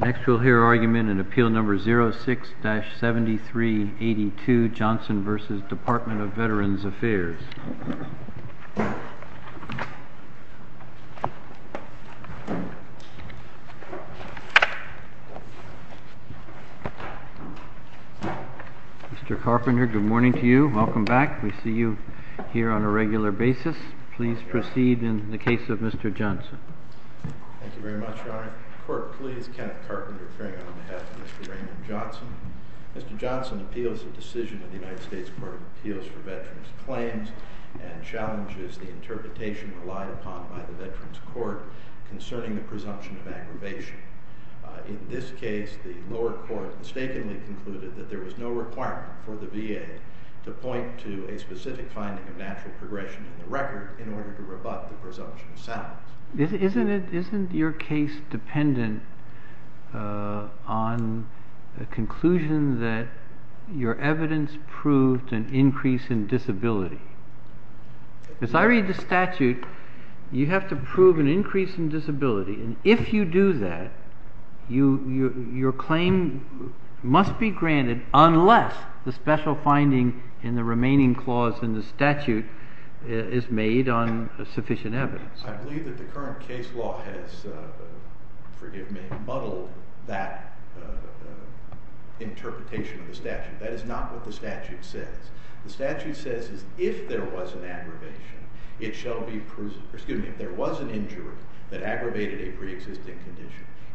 Next, we'll hear argument in Appeal No. 06-7382, Johnson v. Department of Veterans' Affairs. Mr. Carpenter, good morning to you. Welcome back. We see you here on a regular basis, but I want to start with a question. If there was an injury that aggravated a pre-existing condition,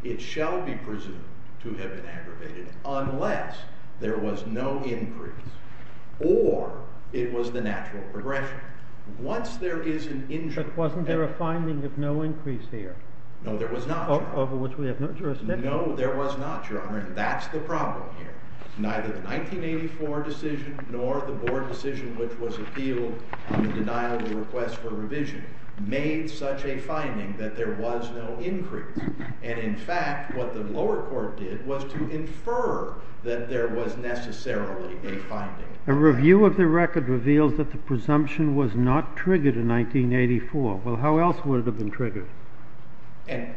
it shall be presumed to have been aggravated unless there was no increase or it was the natural progression. Once there is an injury, and— But wasn't there a finding of no increase here? No, there was not, Your Honor. Over which we have no jurisdiction? No, there was not, Your Honor, and that's the problem here. Neither the 1984 decision nor the board decision which was appealed on the denial of the request for revision made such a finding that there was no increase. And in fact, what the lower court did was to infer that there was necessarily a finding. A review of the record reveals that the presumption was not triggered in 1984. Well, how else would it have been triggered? And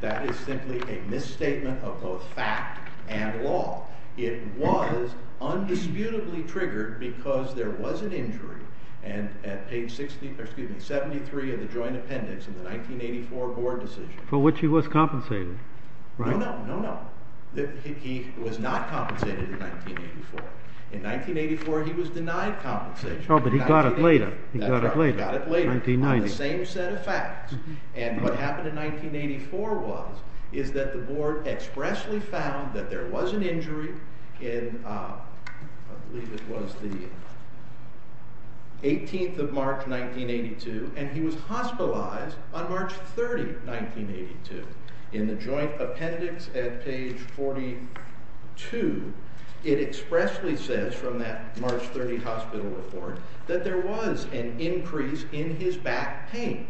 that is simply a misstatement of both fact and law. It was undisputably triggered because there was an injury at page 73 of the joint appendix in the 1984 board decision. For which he was compensated, right? No, no, no, no. He was not compensated in 1984. In 1984, he was denied compensation. Oh, but he got it later. He got it later. On the same set of facts. And what happened in 1984 was, is that the board expressly found that there was an injury in, I believe it was the 18th of March, 1982, and he was hospitalized on March 30, 1982. In the joint appendix at page 42, it expressly says from that March 30 hospital report that there was an increase in his back pain.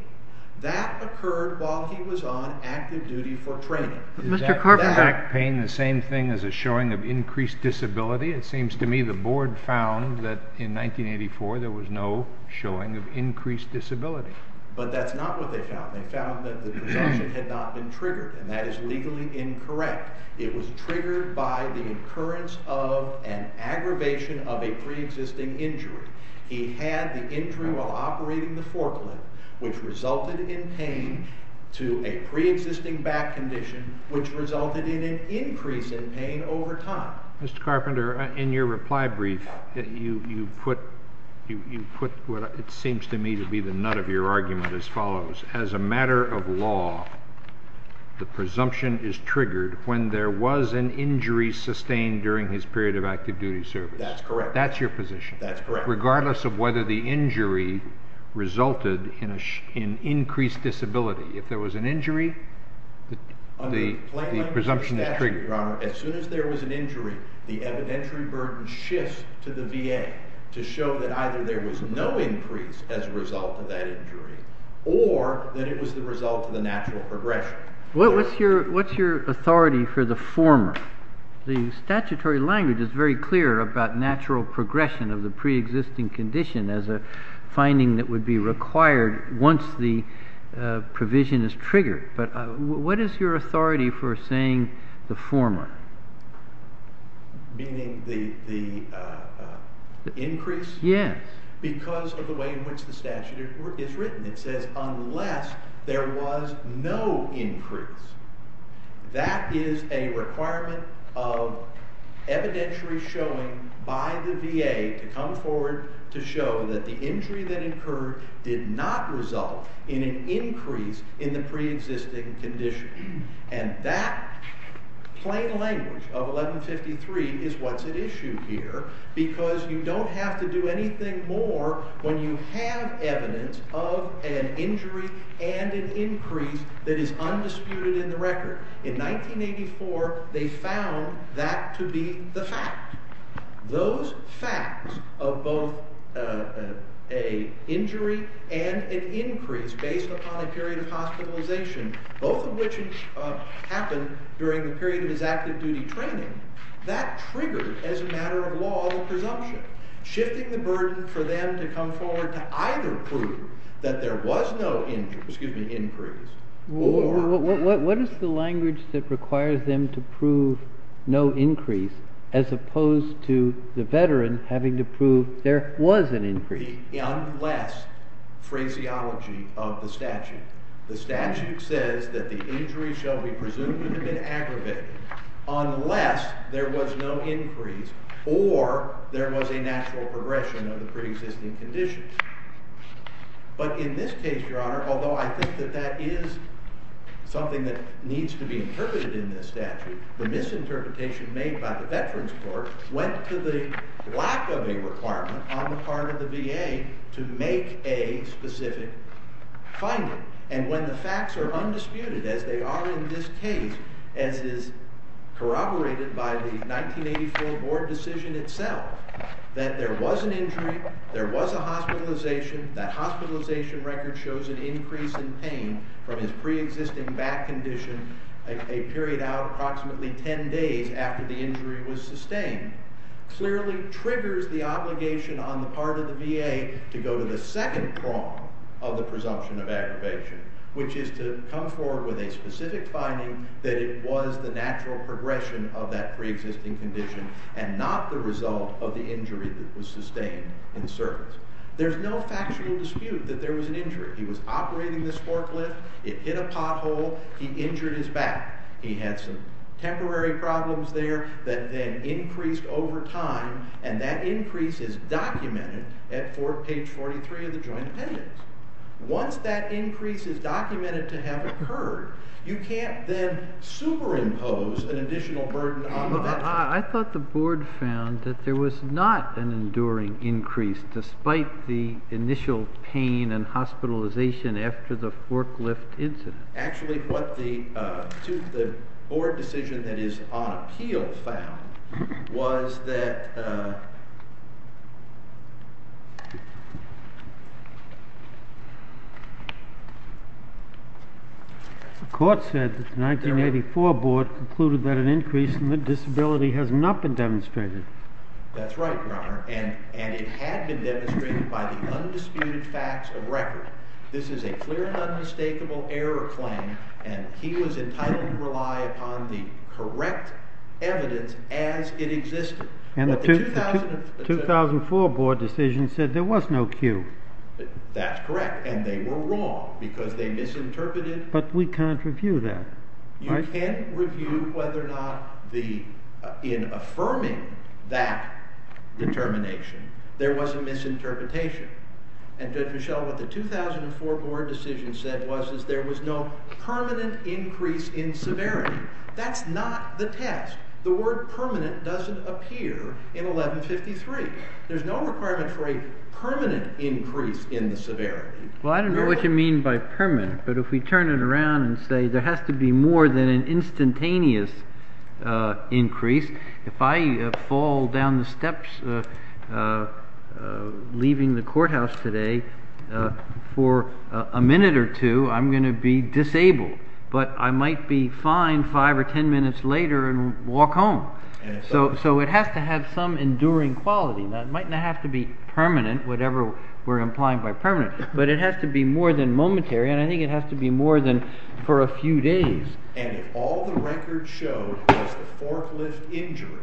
That occurred while he was on active duty for training. But Mr. Carver... Is that back pain the same thing as a showing of increased disability? It seems to me the board found that in 1984 there was no showing of increased disability. But that's not what they found. They found that the presumption had not been triggered. And that is legally incorrect. It was triggered by the occurrence of an aggravation of a pre-existing injury. He had the injury while operating the forklift, which resulted in pain, to a pre-existing back condition, which resulted in an increase in pain over time. Mr. Carpenter, in your reply brief, you put what seems to me to be the nut of your argument as follows. As a matter of law, the presumption is triggered when there was an injury sustained during his period of active duty service. That's correct. That's your position. That's correct. Regardless of whether the injury resulted in increased disability. If there was an injury, the presumption is triggered. As soon as there was an injury, the evidentiary burden shifts to the VA to show that either there was no increase as a result of that injury, or that it was the result of the natural progression. What's your authority for the former? The statutory language is very clear about natural progression of the pre-existing condition as a finding that would be required once the provision is triggered. But what is your authority for saying the former? Meaning the increase? Yes. Because of the way in which the statute is written. It says unless there was no increase. That is a requirement of evidentiary showing by the VA to come forward to show that the injury that occurred did not result in an increase in the pre-existing condition. And that plain language of 1153 is what's at issue here because you don't have to do anything more when you have evidence of an injury and an increase that is undisputed in the record. In 1984, they found that to be the fact. Those facts of both an injury and an increase based upon a period of hospitalization, both of which happened during the period of his active duty training, that triggered, as a matter of law, the presumption. Shifting the burden for them to come forward to either prove that there was no increase or What is the language that requires them to prove no increase as opposed to the veteran having to prove there was an increase? The unless phraseology of the statute. The statute says that the injury shall be presumed to have been aggravated unless there was no increase or there was a natural progression of the pre-existing condition. But in this case, Your Honor, although I think that that is something that needs to be interpreted in this statute, the misinterpretation made by the Veterans Court went to the lack of a requirement on the part of the VA to make a specific finding. And when the facts are undisputed, as they are in this case, as is corroborated by the 1984 Board decision itself, that there was an injury, there was a hospitalization, that hospitalization record shows an increase in pain from his pre-existing back condition a period out approximately 10 days after the injury was sustained. Clearly triggers the obligation on the part of the VA to go to the second prong of the presumption of aggravation, which is to come forward with a specific finding that it was the natural progression of that pre-existing condition and not the result of the injury that was sustained in service. There's no factual dispute that there was an injury. He was operating the forklift, it hit a pothole, he injured his back, he had some temporary problems there that then increased over time, and that increase is documented at page 43 of the Joint Appendix. Once that increase is documented to have occurred, you can't then superimpose an additional burden on the Veterans Court. I thought the Board found that there was not an enduring increase despite the initial pain and hospitalization after the forklift incident. Actually, what the Board decision that is on appeal found was that... The Court said that the 1984 Board concluded that an increase in the disability has not been demonstrated. That's right, Your Honor, and it had been demonstrated by the undisputed facts of record. This is a clear and unmistakable error claim, and he was entitled to rely upon the correct evidence as it existed. But the 2004 Board decision said there was no cue. That's correct, and they were wrong because they misinterpreted... But we can't review that, right? You can't review whether or not in affirming that determination there was a misinterpretation. And Judge Mischel, what the 2004 Board decision said was there was no permanent increase in severity. That's not the test. The word permanent doesn't appear in 1153. There's no requirement for a permanent increase in the severity. Well, I don't know what you mean by permanent, but if we turn it around and say there has to be more than an instantaneous increase, if I fall down the steps leaving the courthouse today for a minute or two, I'm going to be disabled, but I might be fine 5 or 10 minutes later and walk home. So it has to have some enduring quality. It might not have to be permanent, whatever we're implying by permanent, but it has to be more than momentary, and I think it has to be more than for a few days. And if all the record showed was the forklift injury,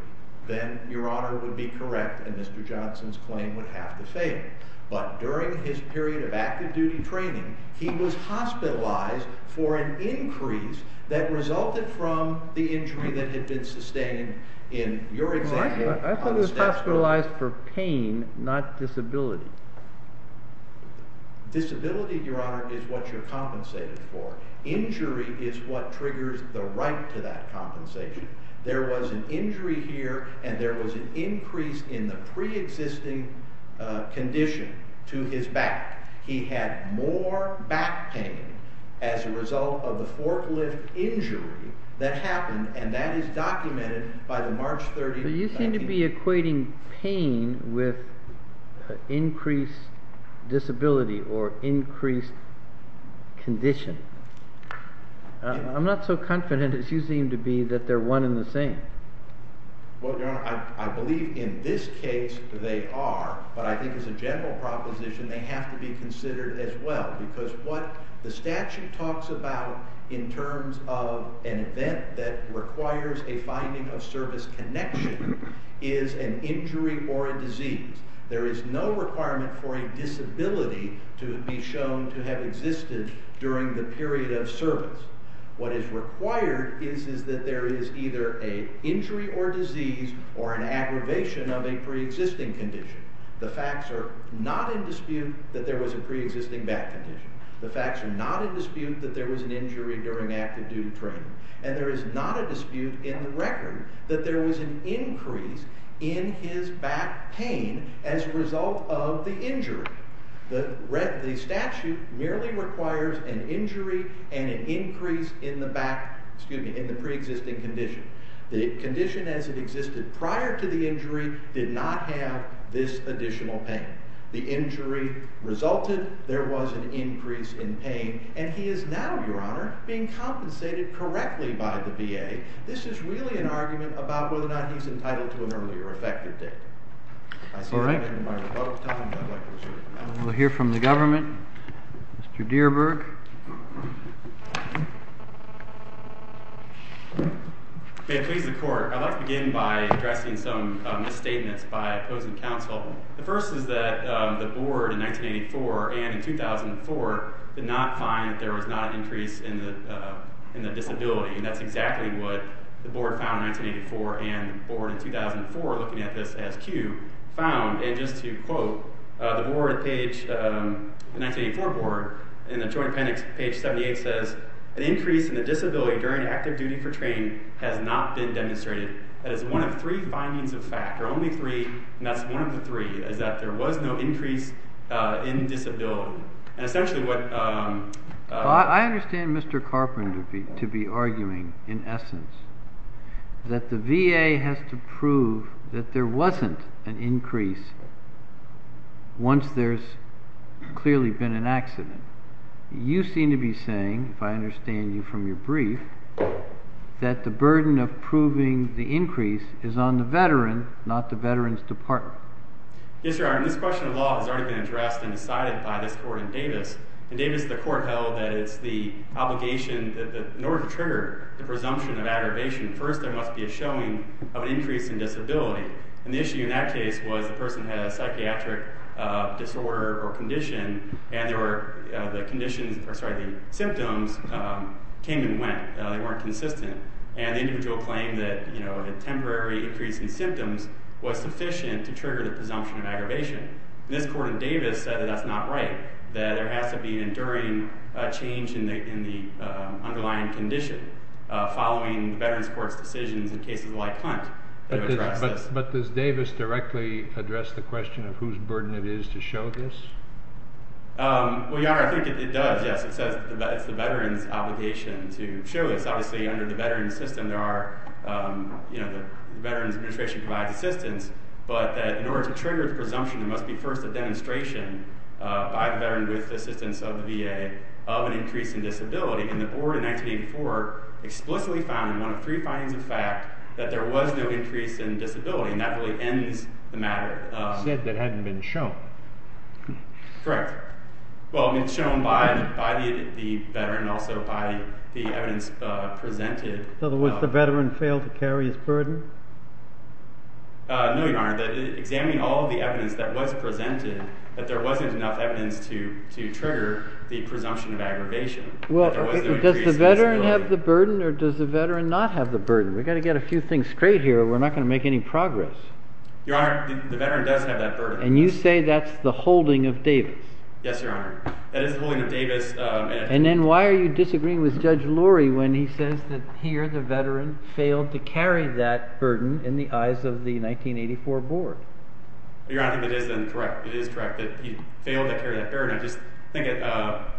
then Your Honor would be correct and Mr. Johnson's claim would have to fail. But during his period of active-duty training, he was hospitalized for an increase that resulted from the injury that had been sustained in your example. I thought he was hospitalized for pain, not disability. Disability, Your Honor, is what you're compensated for. Injury is what triggers the right to that compensation. There was an injury here and there was an increase in the pre-existing condition to his back. He had more back pain as a result of the forklift injury that happened, and that is documented by the March 30th... But you seem to be equating pain with increased disability or increased condition. I'm not so confident as you seem to be that they're one and the same. Well, Your Honor, I believe in this case they are, but I think as a general proposition they have to be considered as well because what the statute talks about in terms of an event that requires a finding of service connection is an injury or a disease. There is no requirement for a disability to be shown to have existed during the period of service. What is required is that there is either an injury or disease or an aggravation of a pre-existing condition. The facts are not in dispute that there was a pre-existing back condition. The facts are not in dispute that there was an injury during active duty training. And there is not a dispute in the record that there was an increase in his back pain as a result of the injury. The statute merely requires an injury and an increase in the pre-existing condition. The condition as it existed prior to the injury did not have this additional pain. The injury resulted, there was an increase in pain, and he is now, Your Honor, being compensated correctly by the VA. This is really an argument about whether or not he's entitled to an earlier effective date. We'll hear from the government. Mr. Dierberg. May it please the Court, I'd like to begin by addressing some misstatements by opposing counsel. The first is that the Board in 1984 and in 2004 did not find that there was not an increase in the disability. And that's exactly what the Board found in 1984 and the Board in 2004, looking at this as cue, found, and just to quote, the 1984 Board in the Joint Appendix, page 78, says, an increase in the disability during active duty for training has not been demonstrated. That is one of three findings of fact, or only three, and that's one of the three, is that there was no increase in disability. And essentially what... I understand Mr. Carper to be arguing, in essence, that the VA has to prove that there wasn't an increase once there's clearly been an accident. You seem to be saying, if I understand you from your brief, that the burden of proving the increase is on the veteran, not the veteran's department. Yes, Your Honor, this question of law has already been addressed and decided by this Court in Davis. In Davis, the Court held that in order to trigger the presumption of aggravation, first there must be a showing of an increase in disability. And the issue in that case was the person had a psychiatric disorder or condition, and the symptoms came and went. They weren't consistent. And the individual claimed that a temporary increase in symptoms was sufficient to trigger the presumption of aggravation. This Court in Davis said that's not right, that there has to be an enduring change in the underlying condition following the Veterans Court's decisions in cases like Hunt. But does Davis directly address the question of whose burden it is to show this? Well, Your Honor, I think it does. Yes, it says it's the veteran's obligation to show this. Obviously, under the veteran's system, the Veterans Administration provides assistance. But in order to trigger the presumption, there must be first a demonstration by the veteran with the assistance of the VA of an increase in disability. And the Board in 1984 explicitly found in one of three findings of fact that there was no increase in disability. And that really ends the matter. You said that hadn't been shown. Correct. Well, it had been shown by the veteran and also by the evidence presented. In other words, the veteran failed to carry his burden? No, Your Honor. Examining all the evidence that was presented, that there wasn't enough evidence to trigger the presumption of aggravation. Does the veteran have the burden or does the veteran not have the burden? We've got to get a few things straight here or we're not going to make any progress. Your Honor, the veteran does have that burden. And you say that's the holding of Davis? Yes, Your Honor. That is the holding of Davis. And then why are you disagreeing with Judge Lurie when he says that here the veteran failed to carry that burden in the eyes of the 1984 Board? Your Honor, I think that is correct. It is correct that he failed to carry that burden. I just think that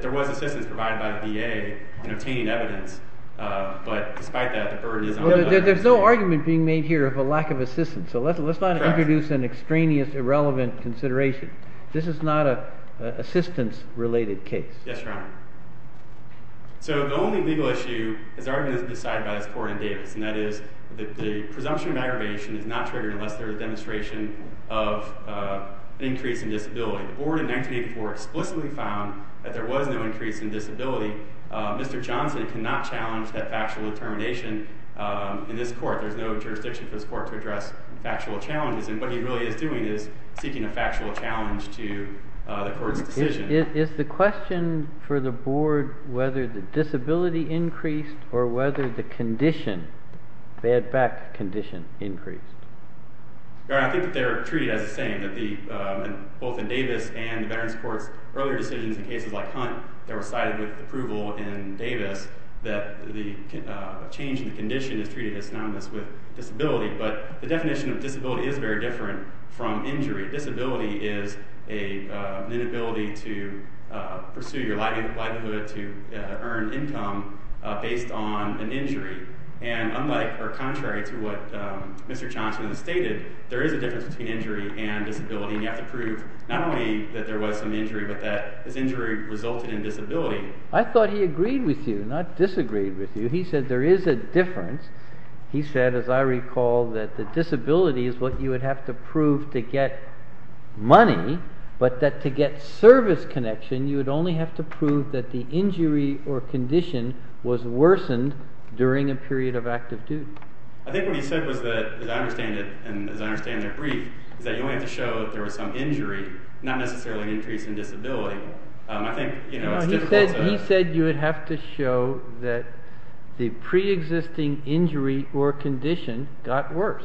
there was assistance provided by the VA in obtaining evidence. But despite that, the burden is on the veteran. There's no argument being made here of a lack of assistance. So let's not introduce an extraneous, irrelevant consideration. This is not an assistance-related case. Yes, Your Honor. So the only legal issue is the argument decided by this Court in Davis. And that is that the presumption of aggravation is not triggered unless there is a demonstration of an increase in disability. The Board in 1984 explicitly found that there was no increase in disability. Mr. Johnson cannot challenge that factual determination in this Court. There's no jurisdiction for this Court to address factual challenges. And what he really is doing is seeking a factual challenge to the Court's decision. Is the question for the Board whether the disability increased or whether the condition, bad back condition, increased? Your Honor, I think that they are treated as the same. Both in Davis and the Veterans Court's earlier decisions in cases like Hunt that were cited with approval in Davis, that the change in the condition is treated as synonymous with disability. But the definition of disability is very different from injury. Disability is an inability to pursue your livelihood, to earn income based on an injury. And unlike or contrary to what Mr. Johnson stated, there is a difference between injury and disability. And you have to prove not only that there was some injury, but that this injury resulted in disability. I thought he agreed with you, not disagreed with you. He said there is a difference. He said, as I recall, that the disability is what you would have to prove to get money, but that to get service connection, you would only have to prove that the injury or condition was worsened during a period of active duty. I think what he said was that, as I understand it, and as I understand their brief, is that you only have to show that there was some injury, not necessarily an increase in disability. I think, you know, it's difficult to... He said you would have to show that the pre-existing injury or condition got worse.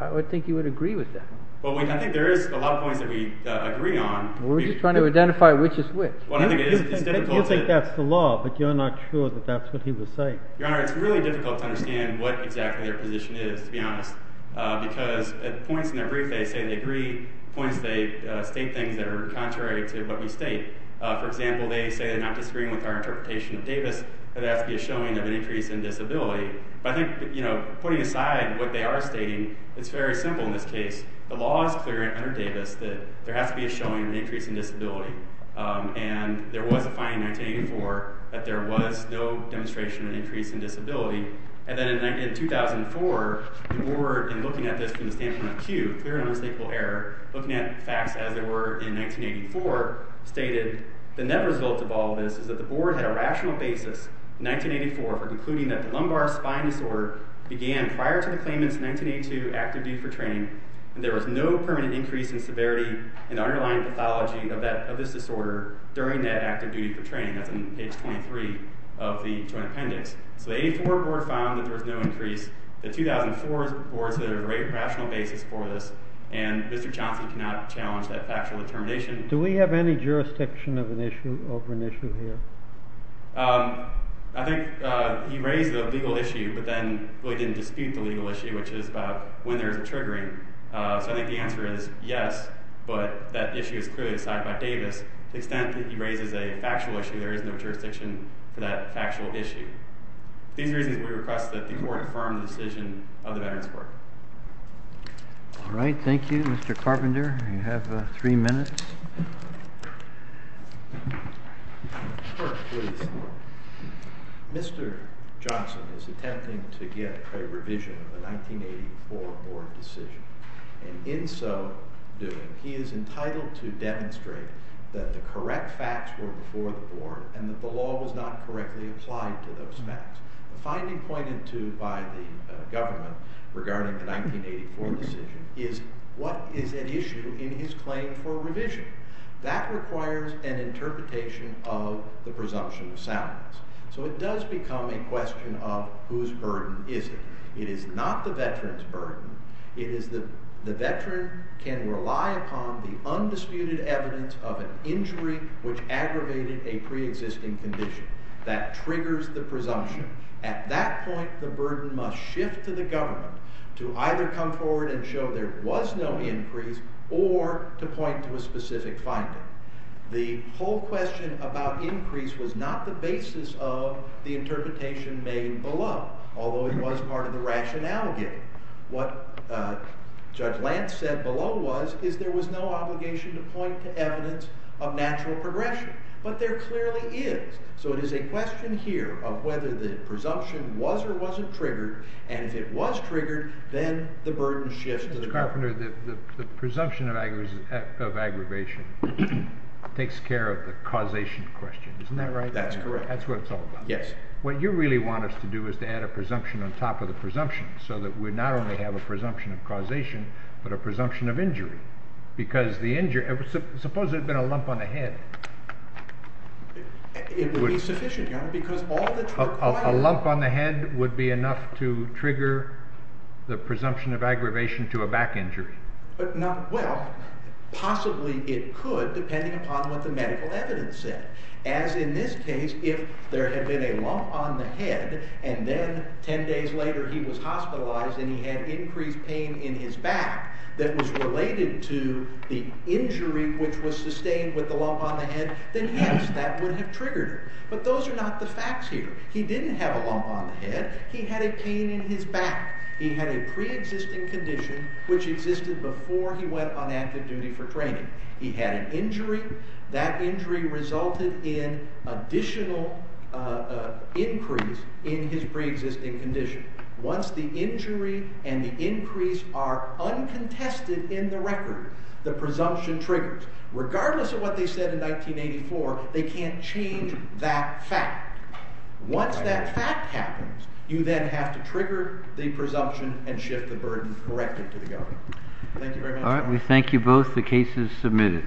I would think you would agree with that. I think there is a lot of points that we agree on. We're just trying to identify which is which. You think that's the law, but you're not sure that that's what he was saying. Your Honor, it's really difficult to understand what exactly their position is, to be honest, because at points in their brief, they say they agree at points they state things that are contrary to what we state. For example, they say they're not disagreeing with our interpretation of Davis, that there has to be a showing of an increase in disability. I think, you know, putting aside what they are stating, it's very simple in this case. The law is clear under Davis that there has to be a showing of an increase in disability. And there was a fine in 1984, that there was no demonstration of an increase in disability. And then in 2004, the Board, in looking at this from the standpoint of Q, clear and unmistakable error, looking at facts as they were in 1984, stated the net result of all this is that the Board had a rational basis in 1984 for concluding that the lumbar spine disorder began prior to the claimant's 1982 active duty for training and there was no permanent increase in severity in the underlying pathology of this disorder during that active duty for training. That's in page 23 of the joint appendix. So the 84 Board found that there was no increase. The 2004 Board said there was a great rational basis for this, and there was no determination. Do we have any jurisdiction over an issue here? I think he raised a legal issue but then he didn't dispute the legal issue which is about when there is a triggering. So I think the answer is yes but that issue is clearly decided by Davis. To the extent that he raises a factual issue, there is no jurisdiction for that factual issue. These reasons we request that the Court confirm the decision of the Veterans Court. All right, thank you Mr. Carpenter, you have three minutes. Mr. Johnson is attempting to get a revision of the 1984 Board decision and in so doing he is entitled to demonstrate that the correct facts were before the Board and that the law was not correctly applied to those facts. The finding pointed to by the government regarding the 1984 Board decision is what is at issue in his claim for revision? That requires an interpretation of the presumption of salience. So it does become a question of whose burden is it? It is not the Veterans burden, it is the Veteran can rely upon the undisputed evidence of an injury which aggravated a pre-existing condition. That triggers the presumption. At that point the burden must shift to the government to either come forward and show there was no increase or to point to a specific finding. The whole question about increase was not the basis of the interpretation made below, although it was part of the rationale given. What Judge Lance said below was, is there was no obligation to point to evidence of natural progression, but there clearly is. So it is a question here of whether the presumption was or wasn't triggered, and if it was triggered, then the burden shifts to the government. Judge Carpenter, the presumption of aggravation takes care of the causation question, isn't that right? That's correct. That's what it's all about. Yes. What you really want us to do is to add a presumption on top of the presumption, so that we not only have a presumption of causation, but a presumption of injury. Because the injury, suppose there had been a lump on the head. It would be sufficient, Your Honor, A lump on the head would be enough to trigger the presumption of aggravation to a back injury. Well, possibly it could, depending upon what the medical evidence said. As in this case, if there had been a lump on the head, and then ten days later he was hospitalized, and he had increased pain in his back that was related to the injury which was sustained with the lump on the head, then yes, that would have triggered it. But those are not the facts here. He didn't have a lump on the head. He had a pain in his back. He had a pre-existing condition which existed before he went on active duty for training. He had an injury. That injury resulted in additional increase in his pre-existing condition. Once the injury and the increase are uncontested in the record, the presumption triggers. Regardless of what they said in 1984, they can't change that fact. Once that fact happens, you then have to trigger the presumption and shift the burden directly to the government. Thank you very much. We thank you both. The case is submitted.